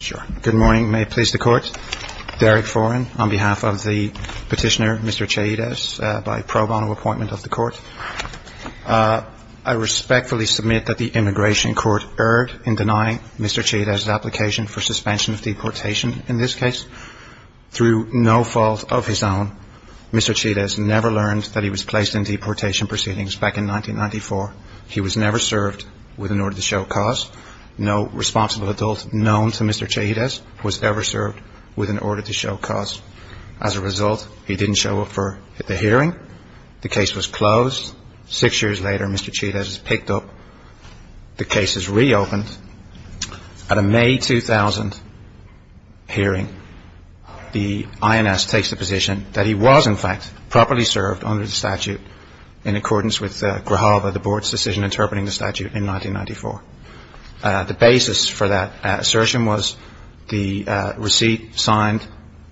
I respectfully submit that the Immigration Court erred in denying Mr. Chaides' application for suspension of deportation in this case. Through no fault of his own, Mr. Chaides never learned that he was placed in deportation proceedings back in 1994. He was never served with an order to show cause. No responsible adult known to Mr. Chaides was ever served with an order to show cause. As a result, he didn't show up for the hearing. The case was closed. Six years later, Mr. Chaides picked up. The case is reopened. At a May 2000 hearing, the INS takes the position that he was, in fact, properly served under the statute in accordance with GRAHAVA, the Board's decision interpreting the statute, in 1994. The basis for that assertion was the receipt signed,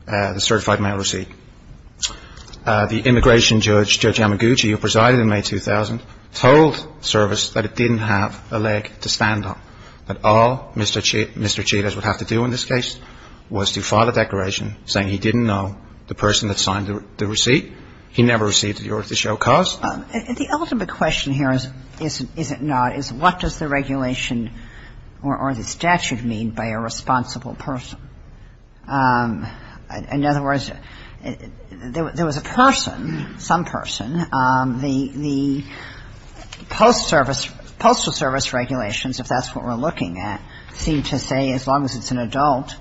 the certified mail receipt. The immigration judge, Judge Yamaguchi, who presided in May 2000, told service that it didn't have a leg to stand on, that all Mr. Chaides would have to do in this case was to file a declaration saying he didn't know the person that signed the receipt. He never received an order to show cause. And the ultimate question here is, is it not, is what does the regulation or the statute mean by a responsible person? In other words, there was a person, some person. The Postal Service regulations, if that's what we're looking at, seem to say as long as it's an adult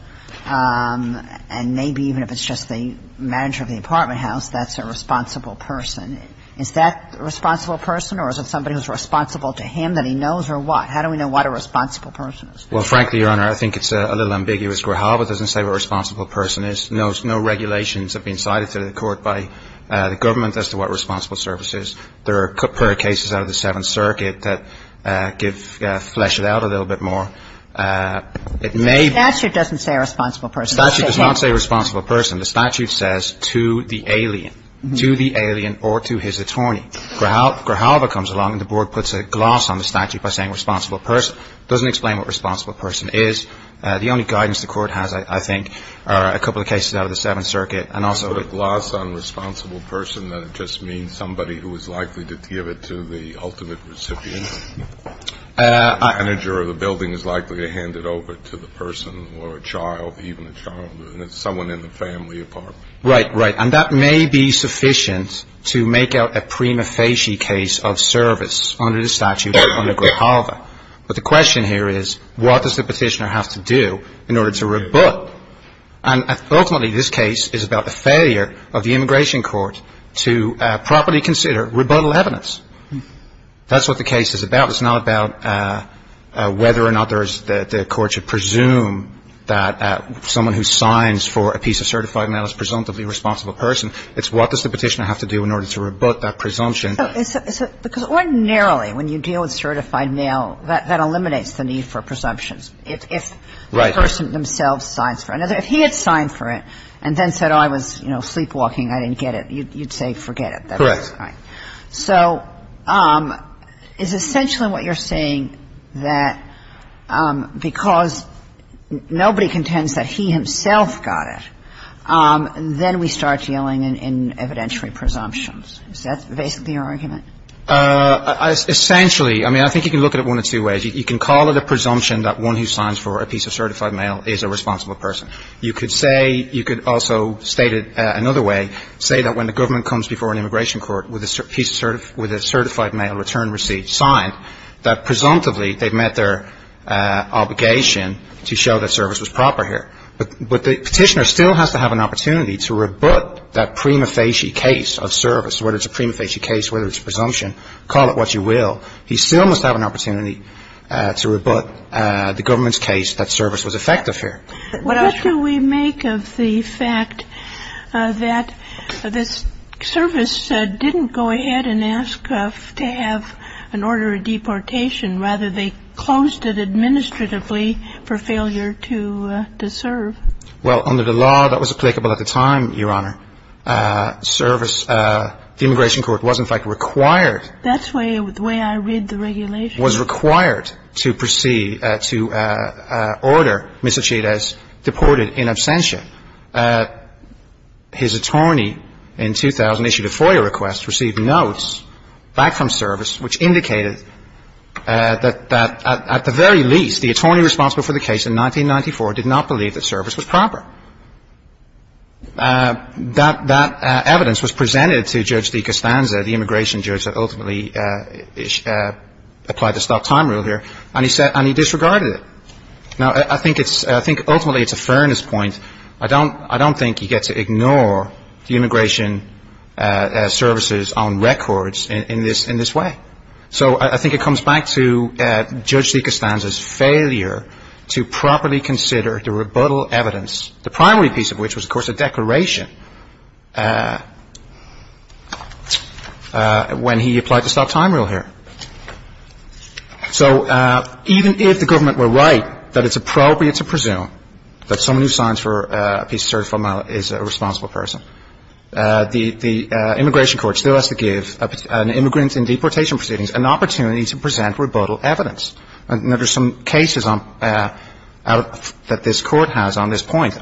and maybe even if it's just the manager of the apartment house, that's a responsible person. Is that a responsible person or is it somebody who's responsible to him that he knows or what? How do we know what a responsible person is? Well, frankly, Your Honor, I think it's a little ambiguous. GRAHAVA doesn't say what a responsible person is. No regulations have been cited to the court by the government as to what responsible service is. There are a couple of cases out of the Seventh Circuit that give ‑‑ flesh it out a little bit more. It may ‑‑ The statute doesn't say a responsible person. The statute does not say a responsible person. The statute says to the alien, to the alien or to his attorney. GRAHAVA comes along and the board puts a gloss on the statute by saying responsible person. It doesn't explain what responsible person is. The only guidance the court has, I think, are a couple of cases out of the Seventh Circuit and also ‑‑ So a gloss on responsible person, that just means somebody who is likely to give it to the ultimate recipient? The manager of the building is likely to hand it over to the person or a child, even a child or someone in the family apartment. Right, right. And that may be sufficient to make out a prima facie case of service under the statute under GRAHAVA. But the question here is what does the petitioner have to do in order to rebut? And ultimately this case is about the failure of the immigration court to properly consider rebuttal evidence. That's what the case is about. It's not about whether or not there is ‑‑ the court should presume that someone who signs for a piece of certified mail is a presumptively responsible person. It's what does the petitioner have to do in order to rebut that presumption? Because ordinarily when you deal with certified mail, that eliminates the need for presumptions if the person themselves signs for it. If he had signed for it and then said, oh, I was, you know, sleepwalking, I didn't get it, you'd say forget it. Correct. All right. So is essentially what you're saying that because nobody contends that he himself got it, then we start dealing in evidentiary presumptions. Is that basically your argument? Essentially. I mean, I think you can look at it one of two ways. You can call it a presumption that one who signs for a piece of certified mail is a responsible person. You could say ‑‑ you could also state it another way, say that when the government comes before an immigration court with a piece of ‑‑ with a certified mail return receipt signed, that presumptively they've met their obligation to show that service was proper here. But the petitioner still has to have an opportunity to rebut that prima facie case of service, whether it's a prima facie case, whether it's a presumption. Call it what you will. He still must have an opportunity to rebut the government's case that service was effective here. Well, what do we make of the fact that this service didn't go ahead and ask to have an order of deportation? Rather, they closed it administratively for failure to serve. Well, under the law that was applicable at the time, Your Honor, service ‑‑ the immigration court was in fact required ‑‑ That's the way I read the regulation. was required to proceed to order Mr. Chides deported in absentia. His attorney in 2000 issued a FOIA request, received notes back from service which indicated that at the very least, the attorney responsible for the case in 1994 did not believe that service was proper. That evidence was presented to Judge DiCostanza, the immigration judge that ultimately applied the stop time rule here, and he disregarded it. Now, I think ultimately it's a fairness point. I don't think you get to ignore the immigration services on records in this way. So I think it comes back to Judge DiCostanza's failure to properly consider the rebuttal evidence, the primary piece of course a declaration when he applied the stop time rule here. So even if the government were right that it's appropriate to presume that someone who signs for a piece of certified mail is a responsible person, the immigration court still has to give an immigrant in deportation proceedings an opportunity to present rebuttal evidence. And there are some cases that this court has on this case. The same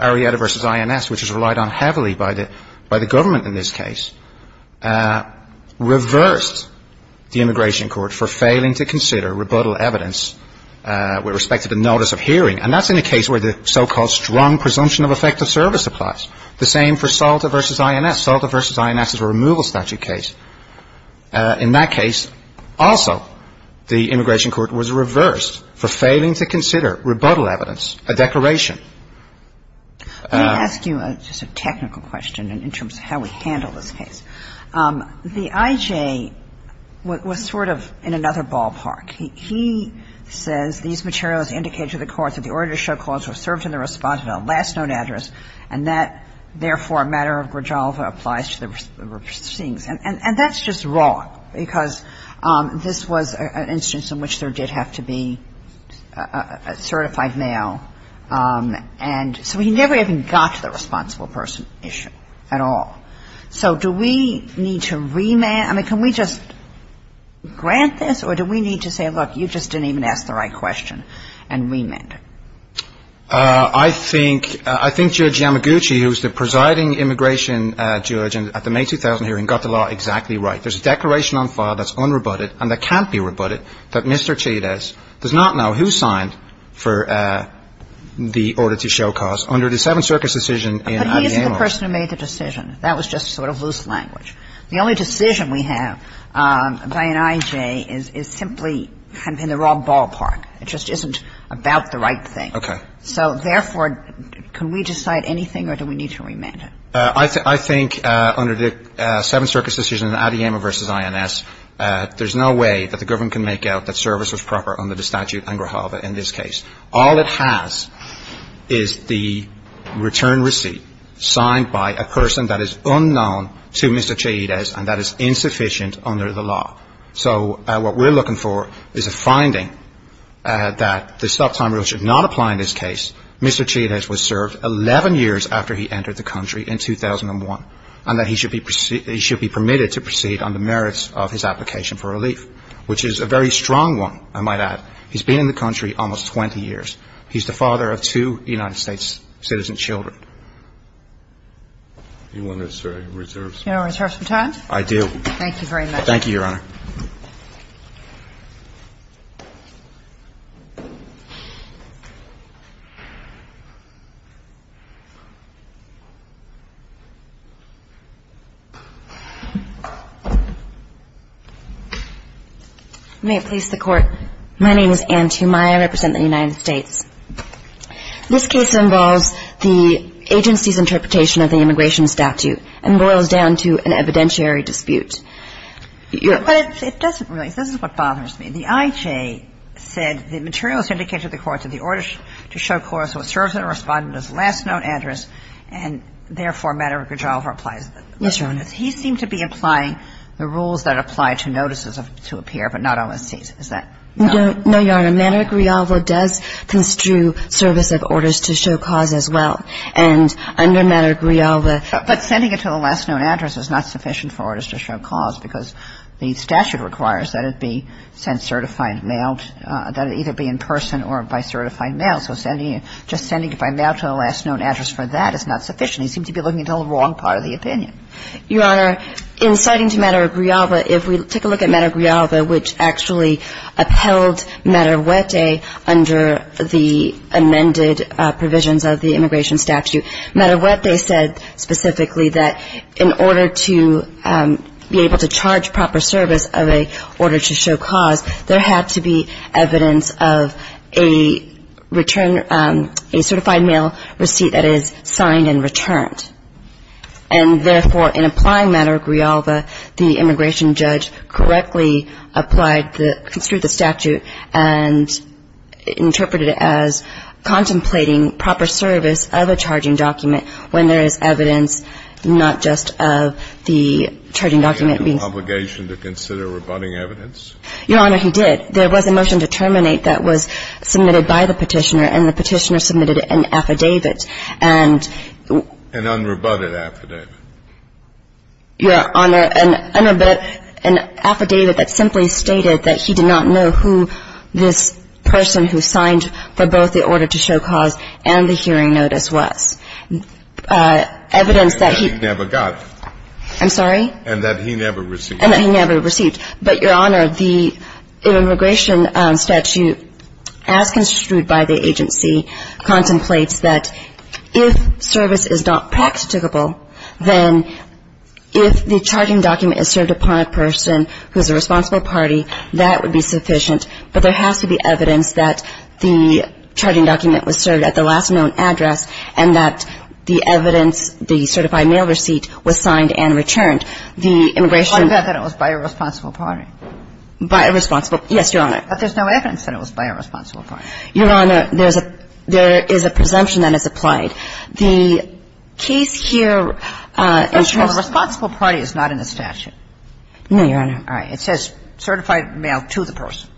for SALTA v. INS. SALTA v. INS is a removal statute case. In that case also, the immigration court was reversed for failing to consider rebuttal evidence, a declaration. technical question in terms of how we handle this case. The I.J. was sort of in another ballpark. He says these materials indicate to the courts that the order to show cause was served in the response of a last known address, and that, therefore, a matter of grajalva applies to the proceedings. And that's just wrong, because this was an instance in which there did have to be certified mail. And so he never even got to the responsible person issue at all. So do we need to remand? I mean, can we just grant this, or do we need to say, look, you just didn't even ask the right question, and remand? I think Judge Yamaguchi, who's the presiding immigration judge at the May 2000 hearing, got the law exactly right. There's a declaration on file that's unrebutted and that can't be rebutted that Mr. Chides does not know who signed for the order to But he isn't the person who made the decision. That was just sort of loose language. The only decision we have by an I.J. is simply kind of in the wrong ballpark. It just isn't about the right thing. Okay. So, therefore, can we decide anything, or do we need to remand it? I think under the Seventh Circuit's decision in Adeyemo v. INS, there's no way that the government can make out that service was proper under the statute and grajalva in this case. All it has is the return receipt signed by a person that is unknown to Mr. Chides and that is insufficient under the law. So what we're looking for is a finding that the stop-time rule should not apply in this case. Mr. Chides was served 11 years after he entered the country in 2001, and that he should be permitted to proceed on the merits of his application for relief, which is a very strong one, I might add. He's been in the country almost 20 years. He's the father of two United States citizen children. Do you want to, sir, reserve some time? I do. Thank you, Your Honor. May it please the Court. My name is Anne Tumaya. I represent the United States. This case involves the agency's interpretation of the immigration statute and boils down to an evidentiary dispute. But it doesn't really. This is what bothers me. It doesn't really. It doesn't really. It doesn't really. The IJ said the materials indicated to the court that the order to show cause was served under Respondent's last known address and, therefore, Madara-Grijalva applies it. Yes, Your Honor. He seemed to be applying the rules that apply to notices to appear, but not on a C, does that not apply? No, Your Honor. Madara-Grijalva does construe service of orders to show cause as well. And under Madara-Grijalva. But sending it to the last known address is not sufficient for orders to show cause because the statute requires that it be sent certified mail, that it either be in person or by certified mail. So sending it, just sending it by mail to the last known address for that is not sufficient. He seemed to be looking at the wrong part of the opinion. Your Honor, in citing to Madara-Grijalva, if we take a look at Madara-Grijalva, which actually upheld Madara-Wete under the amended provisions of the immigration statute, Madara-Wete said specifically that in order to be able to charge proper service of an order to show cause, there had to be evidence of a return, a certified mail receipt that is signed and returned. And, therefore, in applying Madara-Grijalva, the immigration judge correctly applied, construed the statute and interpreted it as contemplating proper service of a charging document when there is evidence not just of the charging document being sent. Did he have an obligation to consider rebutting evidence? Your Honor, he did. There was a motion to terminate that was submitted by the Petitioner, and the Petitioner submitted an affidavit and an unrebutted affidavit. Your Honor, an affidavit that simply stated that he did not know who this person who signed for both the order to show cause and the hearing notice was. Evidence that he never got. I'm sorry? And that he never received. And that he never received. But, Your Honor, the immigration statute, as construed by the agency, contemplates that if service is not practicable, then if the charging document is served upon a person who is a responsible party, that would be sufficient. But there has to be evidence that the charging document was served at the last known address and that the evidence, the certified mail receipt, was signed and returned. The immigration judge. I bet that it was by a responsible party. By a responsible. Yes, Your Honor. But there's no evidence that it was by a responsible party. Your Honor, there is a presumption that is applied. The case here in terms of the responsible party is not in the statute. No, Your Honor. All right. It says certified mail to the person.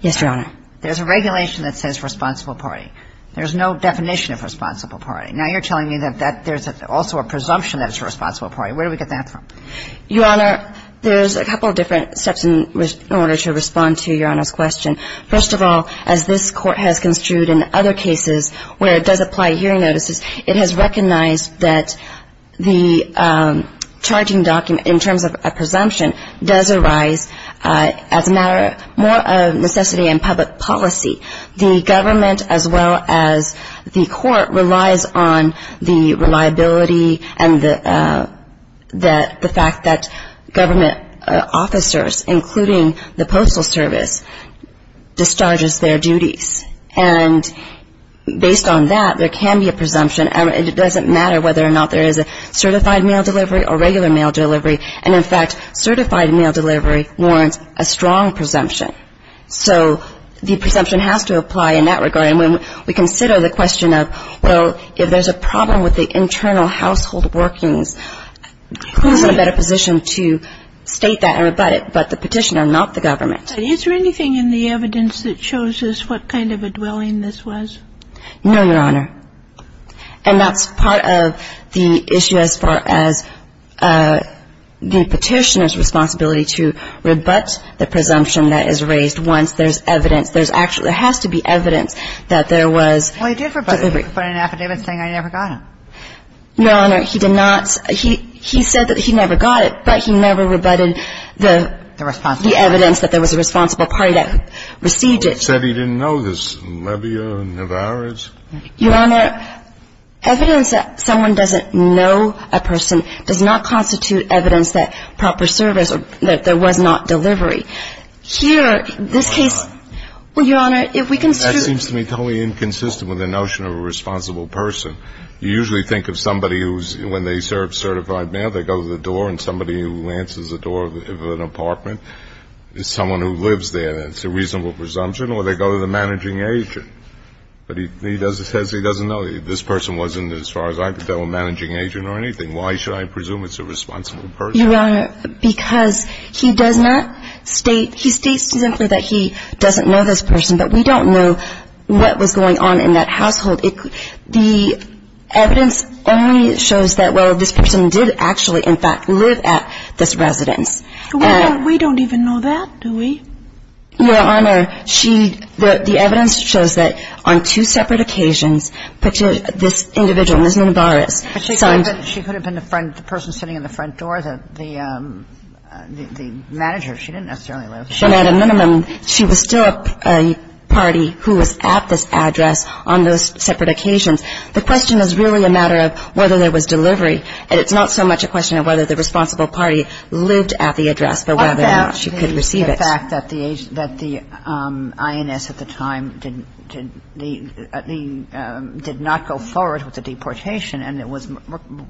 Yes, Your Honor. There's a regulation that says responsible party. There's no definition of responsible party. Now you're telling me that there's also a presumption that it's a responsible party. Where do we get that from? Your Honor, there's a couple of different steps in order to respond to Your Honor's question. First of all, as this court has construed in other cases where it does apply hearing notices, it has recognized that the charging document in terms of a presumption does arise as a matter more of necessity and public policy. The government as well as the court relies on the reliability and the fact that government officers, including the postal service, discharges their duties. And based on that, there can be a presumption. It doesn't matter whether or not there is a certified mail delivery or regular mail delivery. And, in fact, certified mail delivery warrants a strong presumption. So the presumption has to apply in that regard. And when we consider the question of, well, if there's a problem with the internal household workings, then it's a matter of, well, who's in a better position to state that and rebut it, but the petitioner, not the government. Is there anything in the evidence that shows us what kind of a dwelling this was? No, Your Honor. And that's part of the issue as far as the petitioner's responsibility to rebut the presumption that is raised once there's evidence. There's actually – there has to be evidence that there was delivery. Well, he did rebut it. He put it in an affidavit saying, I never got it. No, Your Honor. He did not. He said that he never got it, but he never rebutted the evidence that there was a responsible party that received it. Well, he said he didn't know this. Levia, Nevarez. Your Honor, evidence that someone doesn't know a person does not constitute evidence that proper service or that there was not delivery. Here, this case – well, Your Honor, if we can – It seems to me totally inconsistent with the notion of a responsible person. You usually think of somebody who's – when they serve certified mail, they go to the door, and somebody who answers the door of an apartment is someone who lives there, and it's a reasonable presumption, or they go to the managing agent. But he says he doesn't know. This person wasn't, as far as I could tell, a managing agent or anything. Why should I presume it's a responsible person? Your Honor, because he does not state – he states simply that he doesn't know this person. But we don't know what was going on in that household. The evidence only shows that, well, this person did actually, in fact, live at this residence. We don't even know that, do we? Your Honor, she – the evidence shows that on two separate occasions, this individual, Ms. Nevarez, signed – But she could have been the person sitting in the front door, the manager. She didn't necessarily live there. But at a minimum, she was still a party who was at this address on those separate occasions. The question is really a matter of whether there was delivery, and it's not so much a question of whether the responsible party lived at the address but whether or not she could receive it. What about the fact that the INS at the time did not go forward with the deportation, and it was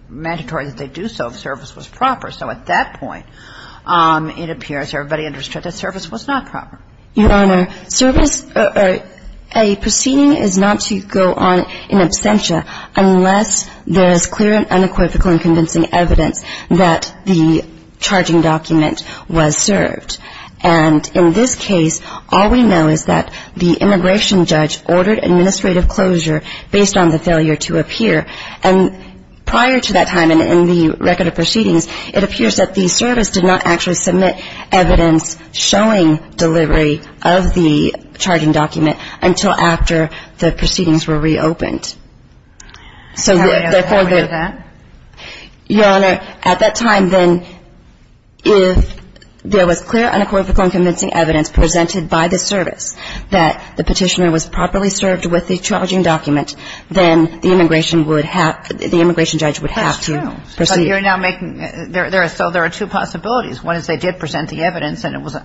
mandatory that they do so if service was proper? So at that point, it appears everybody understood that service was not proper. Your Honor, service – a proceeding is not to go on in absentia unless there is clear and unequivocal and convincing evidence that the charging document was served. And in this case, all we know is that the immigration judge ordered administrative closure based on the failure to appear. And prior to that time and in the record of proceedings, it appears that the service did not actually submit evidence showing delivery of the charging document until after the proceedings were reopened. So therefore – Can I ask how we know that? Your Honor, at that time, then, if there was clear, unequivocal and convincing evidence presented by the service that the Petitioner was properly served with the charging document, then the immigration would have – the immigration judge would have to proceed. That's true. But you're now making – so there are two possibilities. One is they did present the evidence, and it was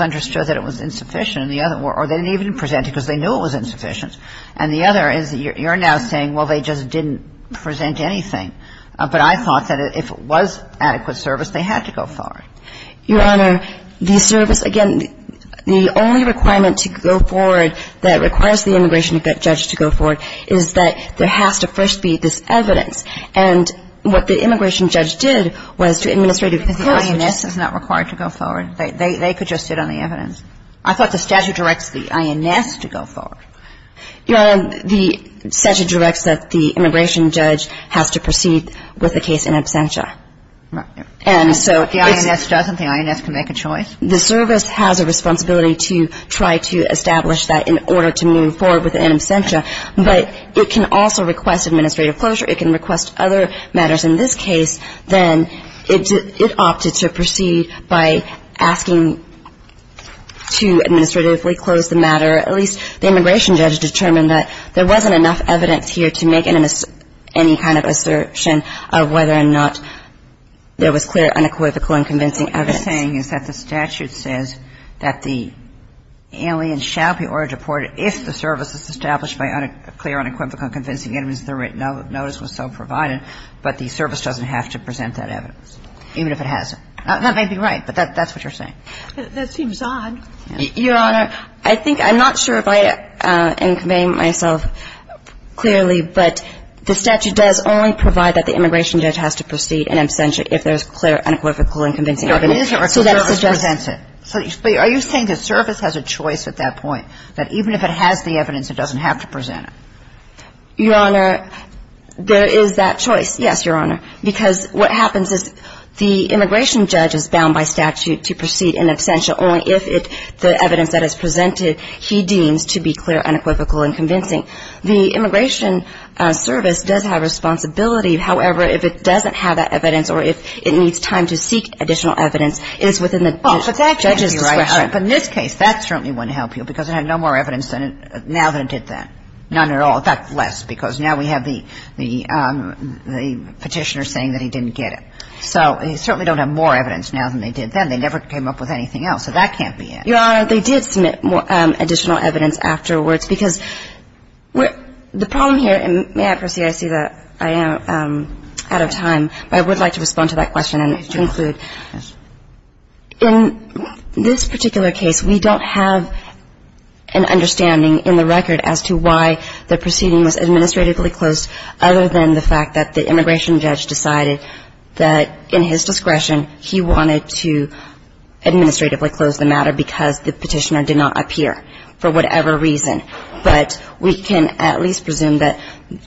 understood that it was insufficient. And the other – or they didn't even present it because they knew it was insufficient. And the other is you're now saying, well, they just didn't present anything. But I thought that if it was adequate service, they had to go forward. Your Honor, the service – again, the only requirement to go forward that requires the immigration judge to go forward is that there has to first be this evidence. And what the immigration judge did was to administrative closure. Because the INS is not required to go forward. They could just sit on the evidence. I thought the statute directs the INS to go forward. Your Honor, the statute directs that the immigration judge has to proceed with the case in absentia. And so it's – But the INS doesn't. The INS can make a choice. The service has a responsibility to try to establish that in order to move forward with it in absentia. But it can also request administrative closure. It can request other matters. In this case, then, it opted to proceed by asking to administratively close the matter. At least the immigration judge determined that there wasn't enough evidence here to make any kind of assertion of whether or not there was clear, unequivocal, unconvincing evidence. What you're saying is that the statute says that the alien shall be ordered to report if the service is established by clear, unequivocal, unconvincing evidence, the written notice was so provided, but the service doesn't have to present that evidence, even if it hasn't. That may be right, but that's what you're saying. That seems odd. Your Honor, I think – I'm not sure if I am conveying myself clearly, but the statute does only provide that the immigration judge has to proceed in absentia if there's clear, unequivocal, unconvincing evidence. There is a request to present it. But are you saying the service has a choice at that point, that even if it has the evidence, it doesn't have to present it? Your Honor, there is that choice. Yes, Your Honor. Because what happens is the immigration judge is bound by statute to proceed in absentia only if the evidence that is presented he deems to be clear, unequivocal, unconvincing. The immigration service does have responsibility. However, if it doesn't have that evidence or if it needs time to seek additional evidence, it is within the judge's discretion. But in this case, that certainly wouldn't help you because it had no more evidence now than it did then. None at all. In fact, less, because now we have the petitioner saying that he didn't get it. So they certainly don't have more evidence now than they did then. They never came up with anything else. So that can't be it. Your Honor, they did submit additional evidence afterwards because the problem here, and may I proceed? I see that I am out of time. But I would like to respond to that question and conclude. Yes. In this particular case, we don't have an understanding in the record as to why the proceeding was administratively closed other than the fact that the immigration judge decided that in his discretion he wanted to administratively close the matter because the petitioner did not appear for whatever reason. But we can at least presume that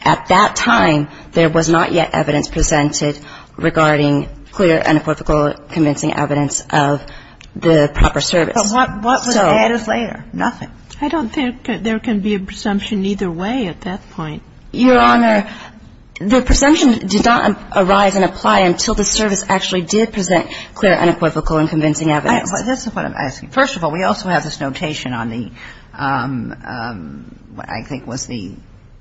at that time there was not yet evidence presented regarding clear, unequivocal, convincing evidence of the proper service. But what was added later? Nothing. I don't think there can be a presumption either way at that point. Your Honor, the presumption did not arise and apply until the service actually did present clear, unequivocal and convincing evidence. This is what I'm asking. First of all, we also have this notation on the, I think it was the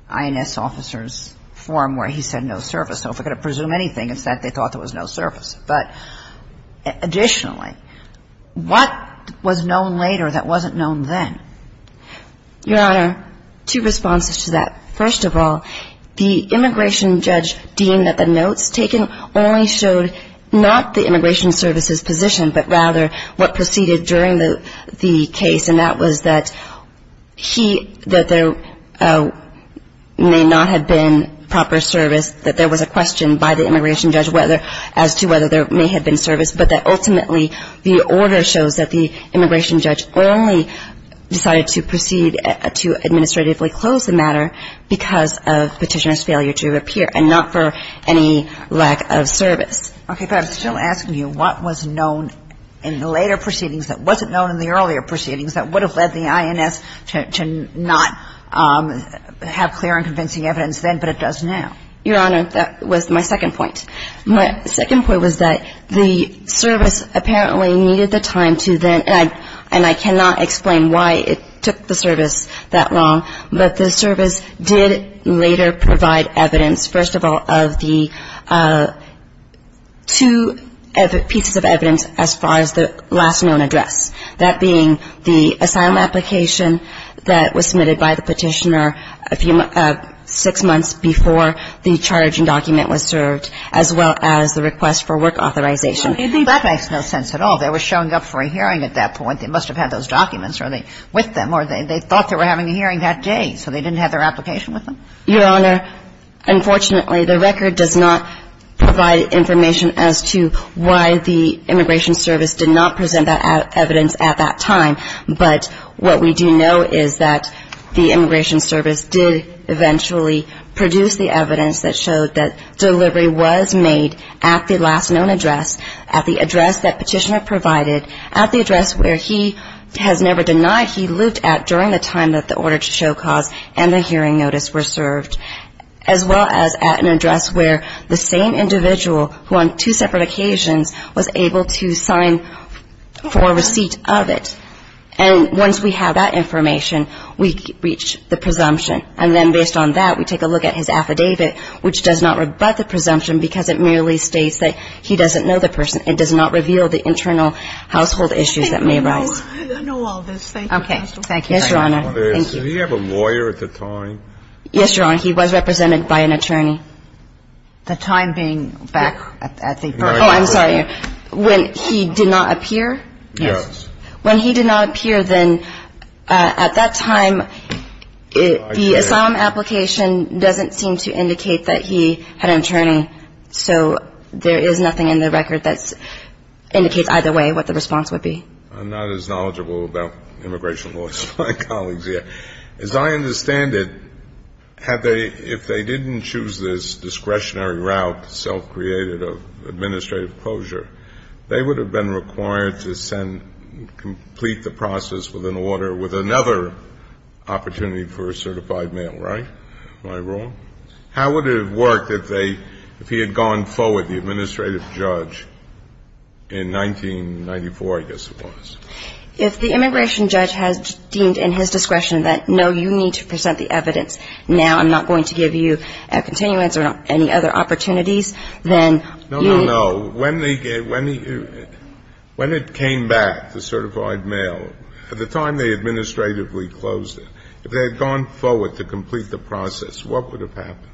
INS officer's form where he said no service. So if we're going to presume anything, it's that they thought there was no service. But additionally, what was known later that wasn't known then? Your Honor, two responses to that. First of all, the immigration judge deemed that the notes taken only showed not the case, and that was that he, that there may not have been proper service, that there was a question by the immigration judge whether, as to whether there may have been service, but that ultimately the order shows that the immigration judge only decided to proceed to administratively close the matter because of petitioner's failure Okay, but I'm still asking you, what was known in the later proceedings that wasn't known in the earlier proceedings that would have led the INS to not have clear and convincing evidence then, but it does now? Your Honor, that was my second point. My second point was that the service apparently needed the time to then, and I cannot explain why it took the service that long, but the service did later provide evidence, first of all, of the two pieces of evidence as far as the last known address, that being the asylum application that was submitted by the petitioner a few, six months before the charging document was served, as well as the request for work authorization. That makes no sense at all. They were showing up for a hearing at that point. They must have had those documents with them, or they thought they were having a hearing that day, so they didn't have their application with them? Your Honor, unfortunately, the record does not provide information as to why the Immigration Service did not present that evidence at that time, but what we do know is that the Immigration Service did eventually produce the evidence that showed that delivery was made at the last known address, at the address that petitioner provided, at the address where he has never denied he lived at during the time that the order to show cause and the hearing notice were served, as well as at an address where the same individual, who on two separate occasions, was able to sign for receipt of it. And once we have that information, we reach the presumption. And then based on that, we take a look at his affidavit, which does not rebut the presumption because it merely states that he doesn't know the person. It does not reveal the internal household issues that may arise. I know all this. Thank you. Okay. Thank you. Yes, Your Honor. Thank you. Did he have a lawyer at the time? Yes, Your Honor. He was represented by an attorney. The time being back at the period? Oh, I'm sorry. When he did not appear? Yes. When he did not appear, then at that time, the asylum application doesn't seem to indicate that he had an attorney, so there is nothing in the record that indicates either way what the response would be. I'm not as knowledgeable about immigration laws as my colleagues here. As I understand it, had they — if they didn't choose this discretionary route, self-created, of administrative closure, they would have been required to send — complete the process with an order with another opportunity for a certified mail, right? Am I wrong? How would it have worked if they — if he had gone forward, the administrative judge, in 1994, I guess it was? If the immigration judge has deemed in his discretion that, no, you need to present the evidence now, I'm not going to give you a continuance or any other opportunities, then you — No, no, no. When they — when it came back, the certified mail, at the time they administratively closed it, if they had gone forward to complete the process, what would have happened?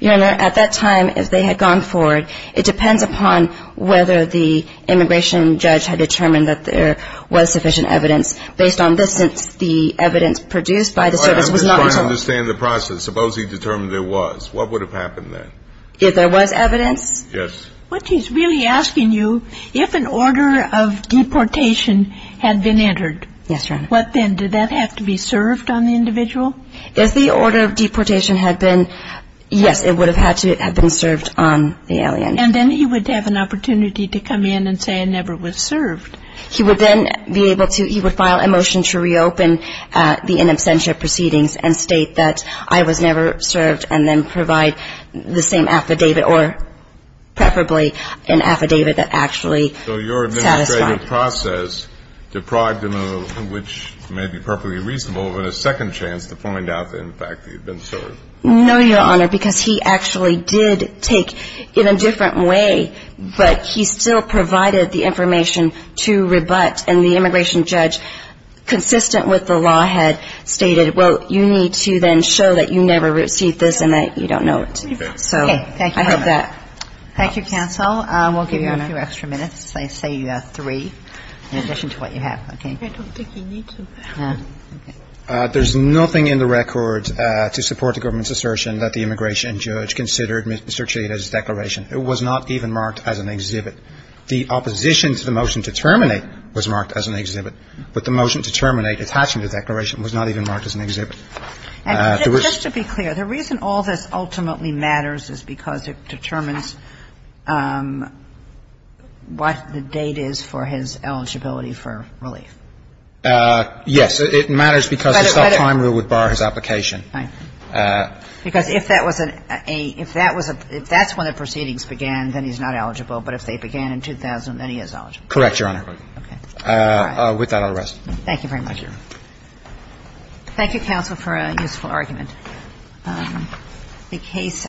Your Honor, at that time, if they had gone forward, it depends upon whether the immigration judge had determined that there was sufficient evidence. Based on this, since the evidence produced by the service was not — I'm just trying to understand the process. Suppose he determined there was. What would have happened then? If there was evidence? Yes. But he's really asking you if an order of deportation had been entered. Yes, Your Honor. What then? Did that have to be served on the individual? If the order of deportation had been — yes, it would have had to have been served on the alien. And then he would have an opportunity to come in and say, I never was served. He would then be able to — he would file a motion to reopen the in absentia proceedings and state that I was never served, and then provide the same affidavit, or preferably an affidavit that actually satisfied. So your administrative process deprived him of, which may be perfectly reasonable, but a second chance to find out the fact that he had been served. No, Your Honor, because he actually did take in a different way, but he still provided the information to rebut, and the immigration judge, consistent with the law, had stated, well, you need to then show that you never received this and that you don't know it. Thank you. Thank you, counsel. We'll give you a few extra minutes. I say three, in addition to what you have. Okay? I don't think you need to. There's nothing in the record to support the government's assertion that the immigration judge considered Mr. Chileta's declaration. It was not even marked as an exhibit. The opposition to the motion to terminate was marked as an exhibit, but the motion to terminate attaching the declaration was not even marked as an exhibit. And just to be clear, the reason all this ultimately matters is because it determines what the date is for his eligibility for relief. Yes. It matters because the subprime rule would bar his application. Right. Because if that was a — if that's when the proceedings began, then he's not eligible. But if they began in 2000, then he is eligible. Correct, Your Honor. Okay. All right. With that, I'll rest. Thank you very much. Thank you. Thank you, counsel, for a useful argument.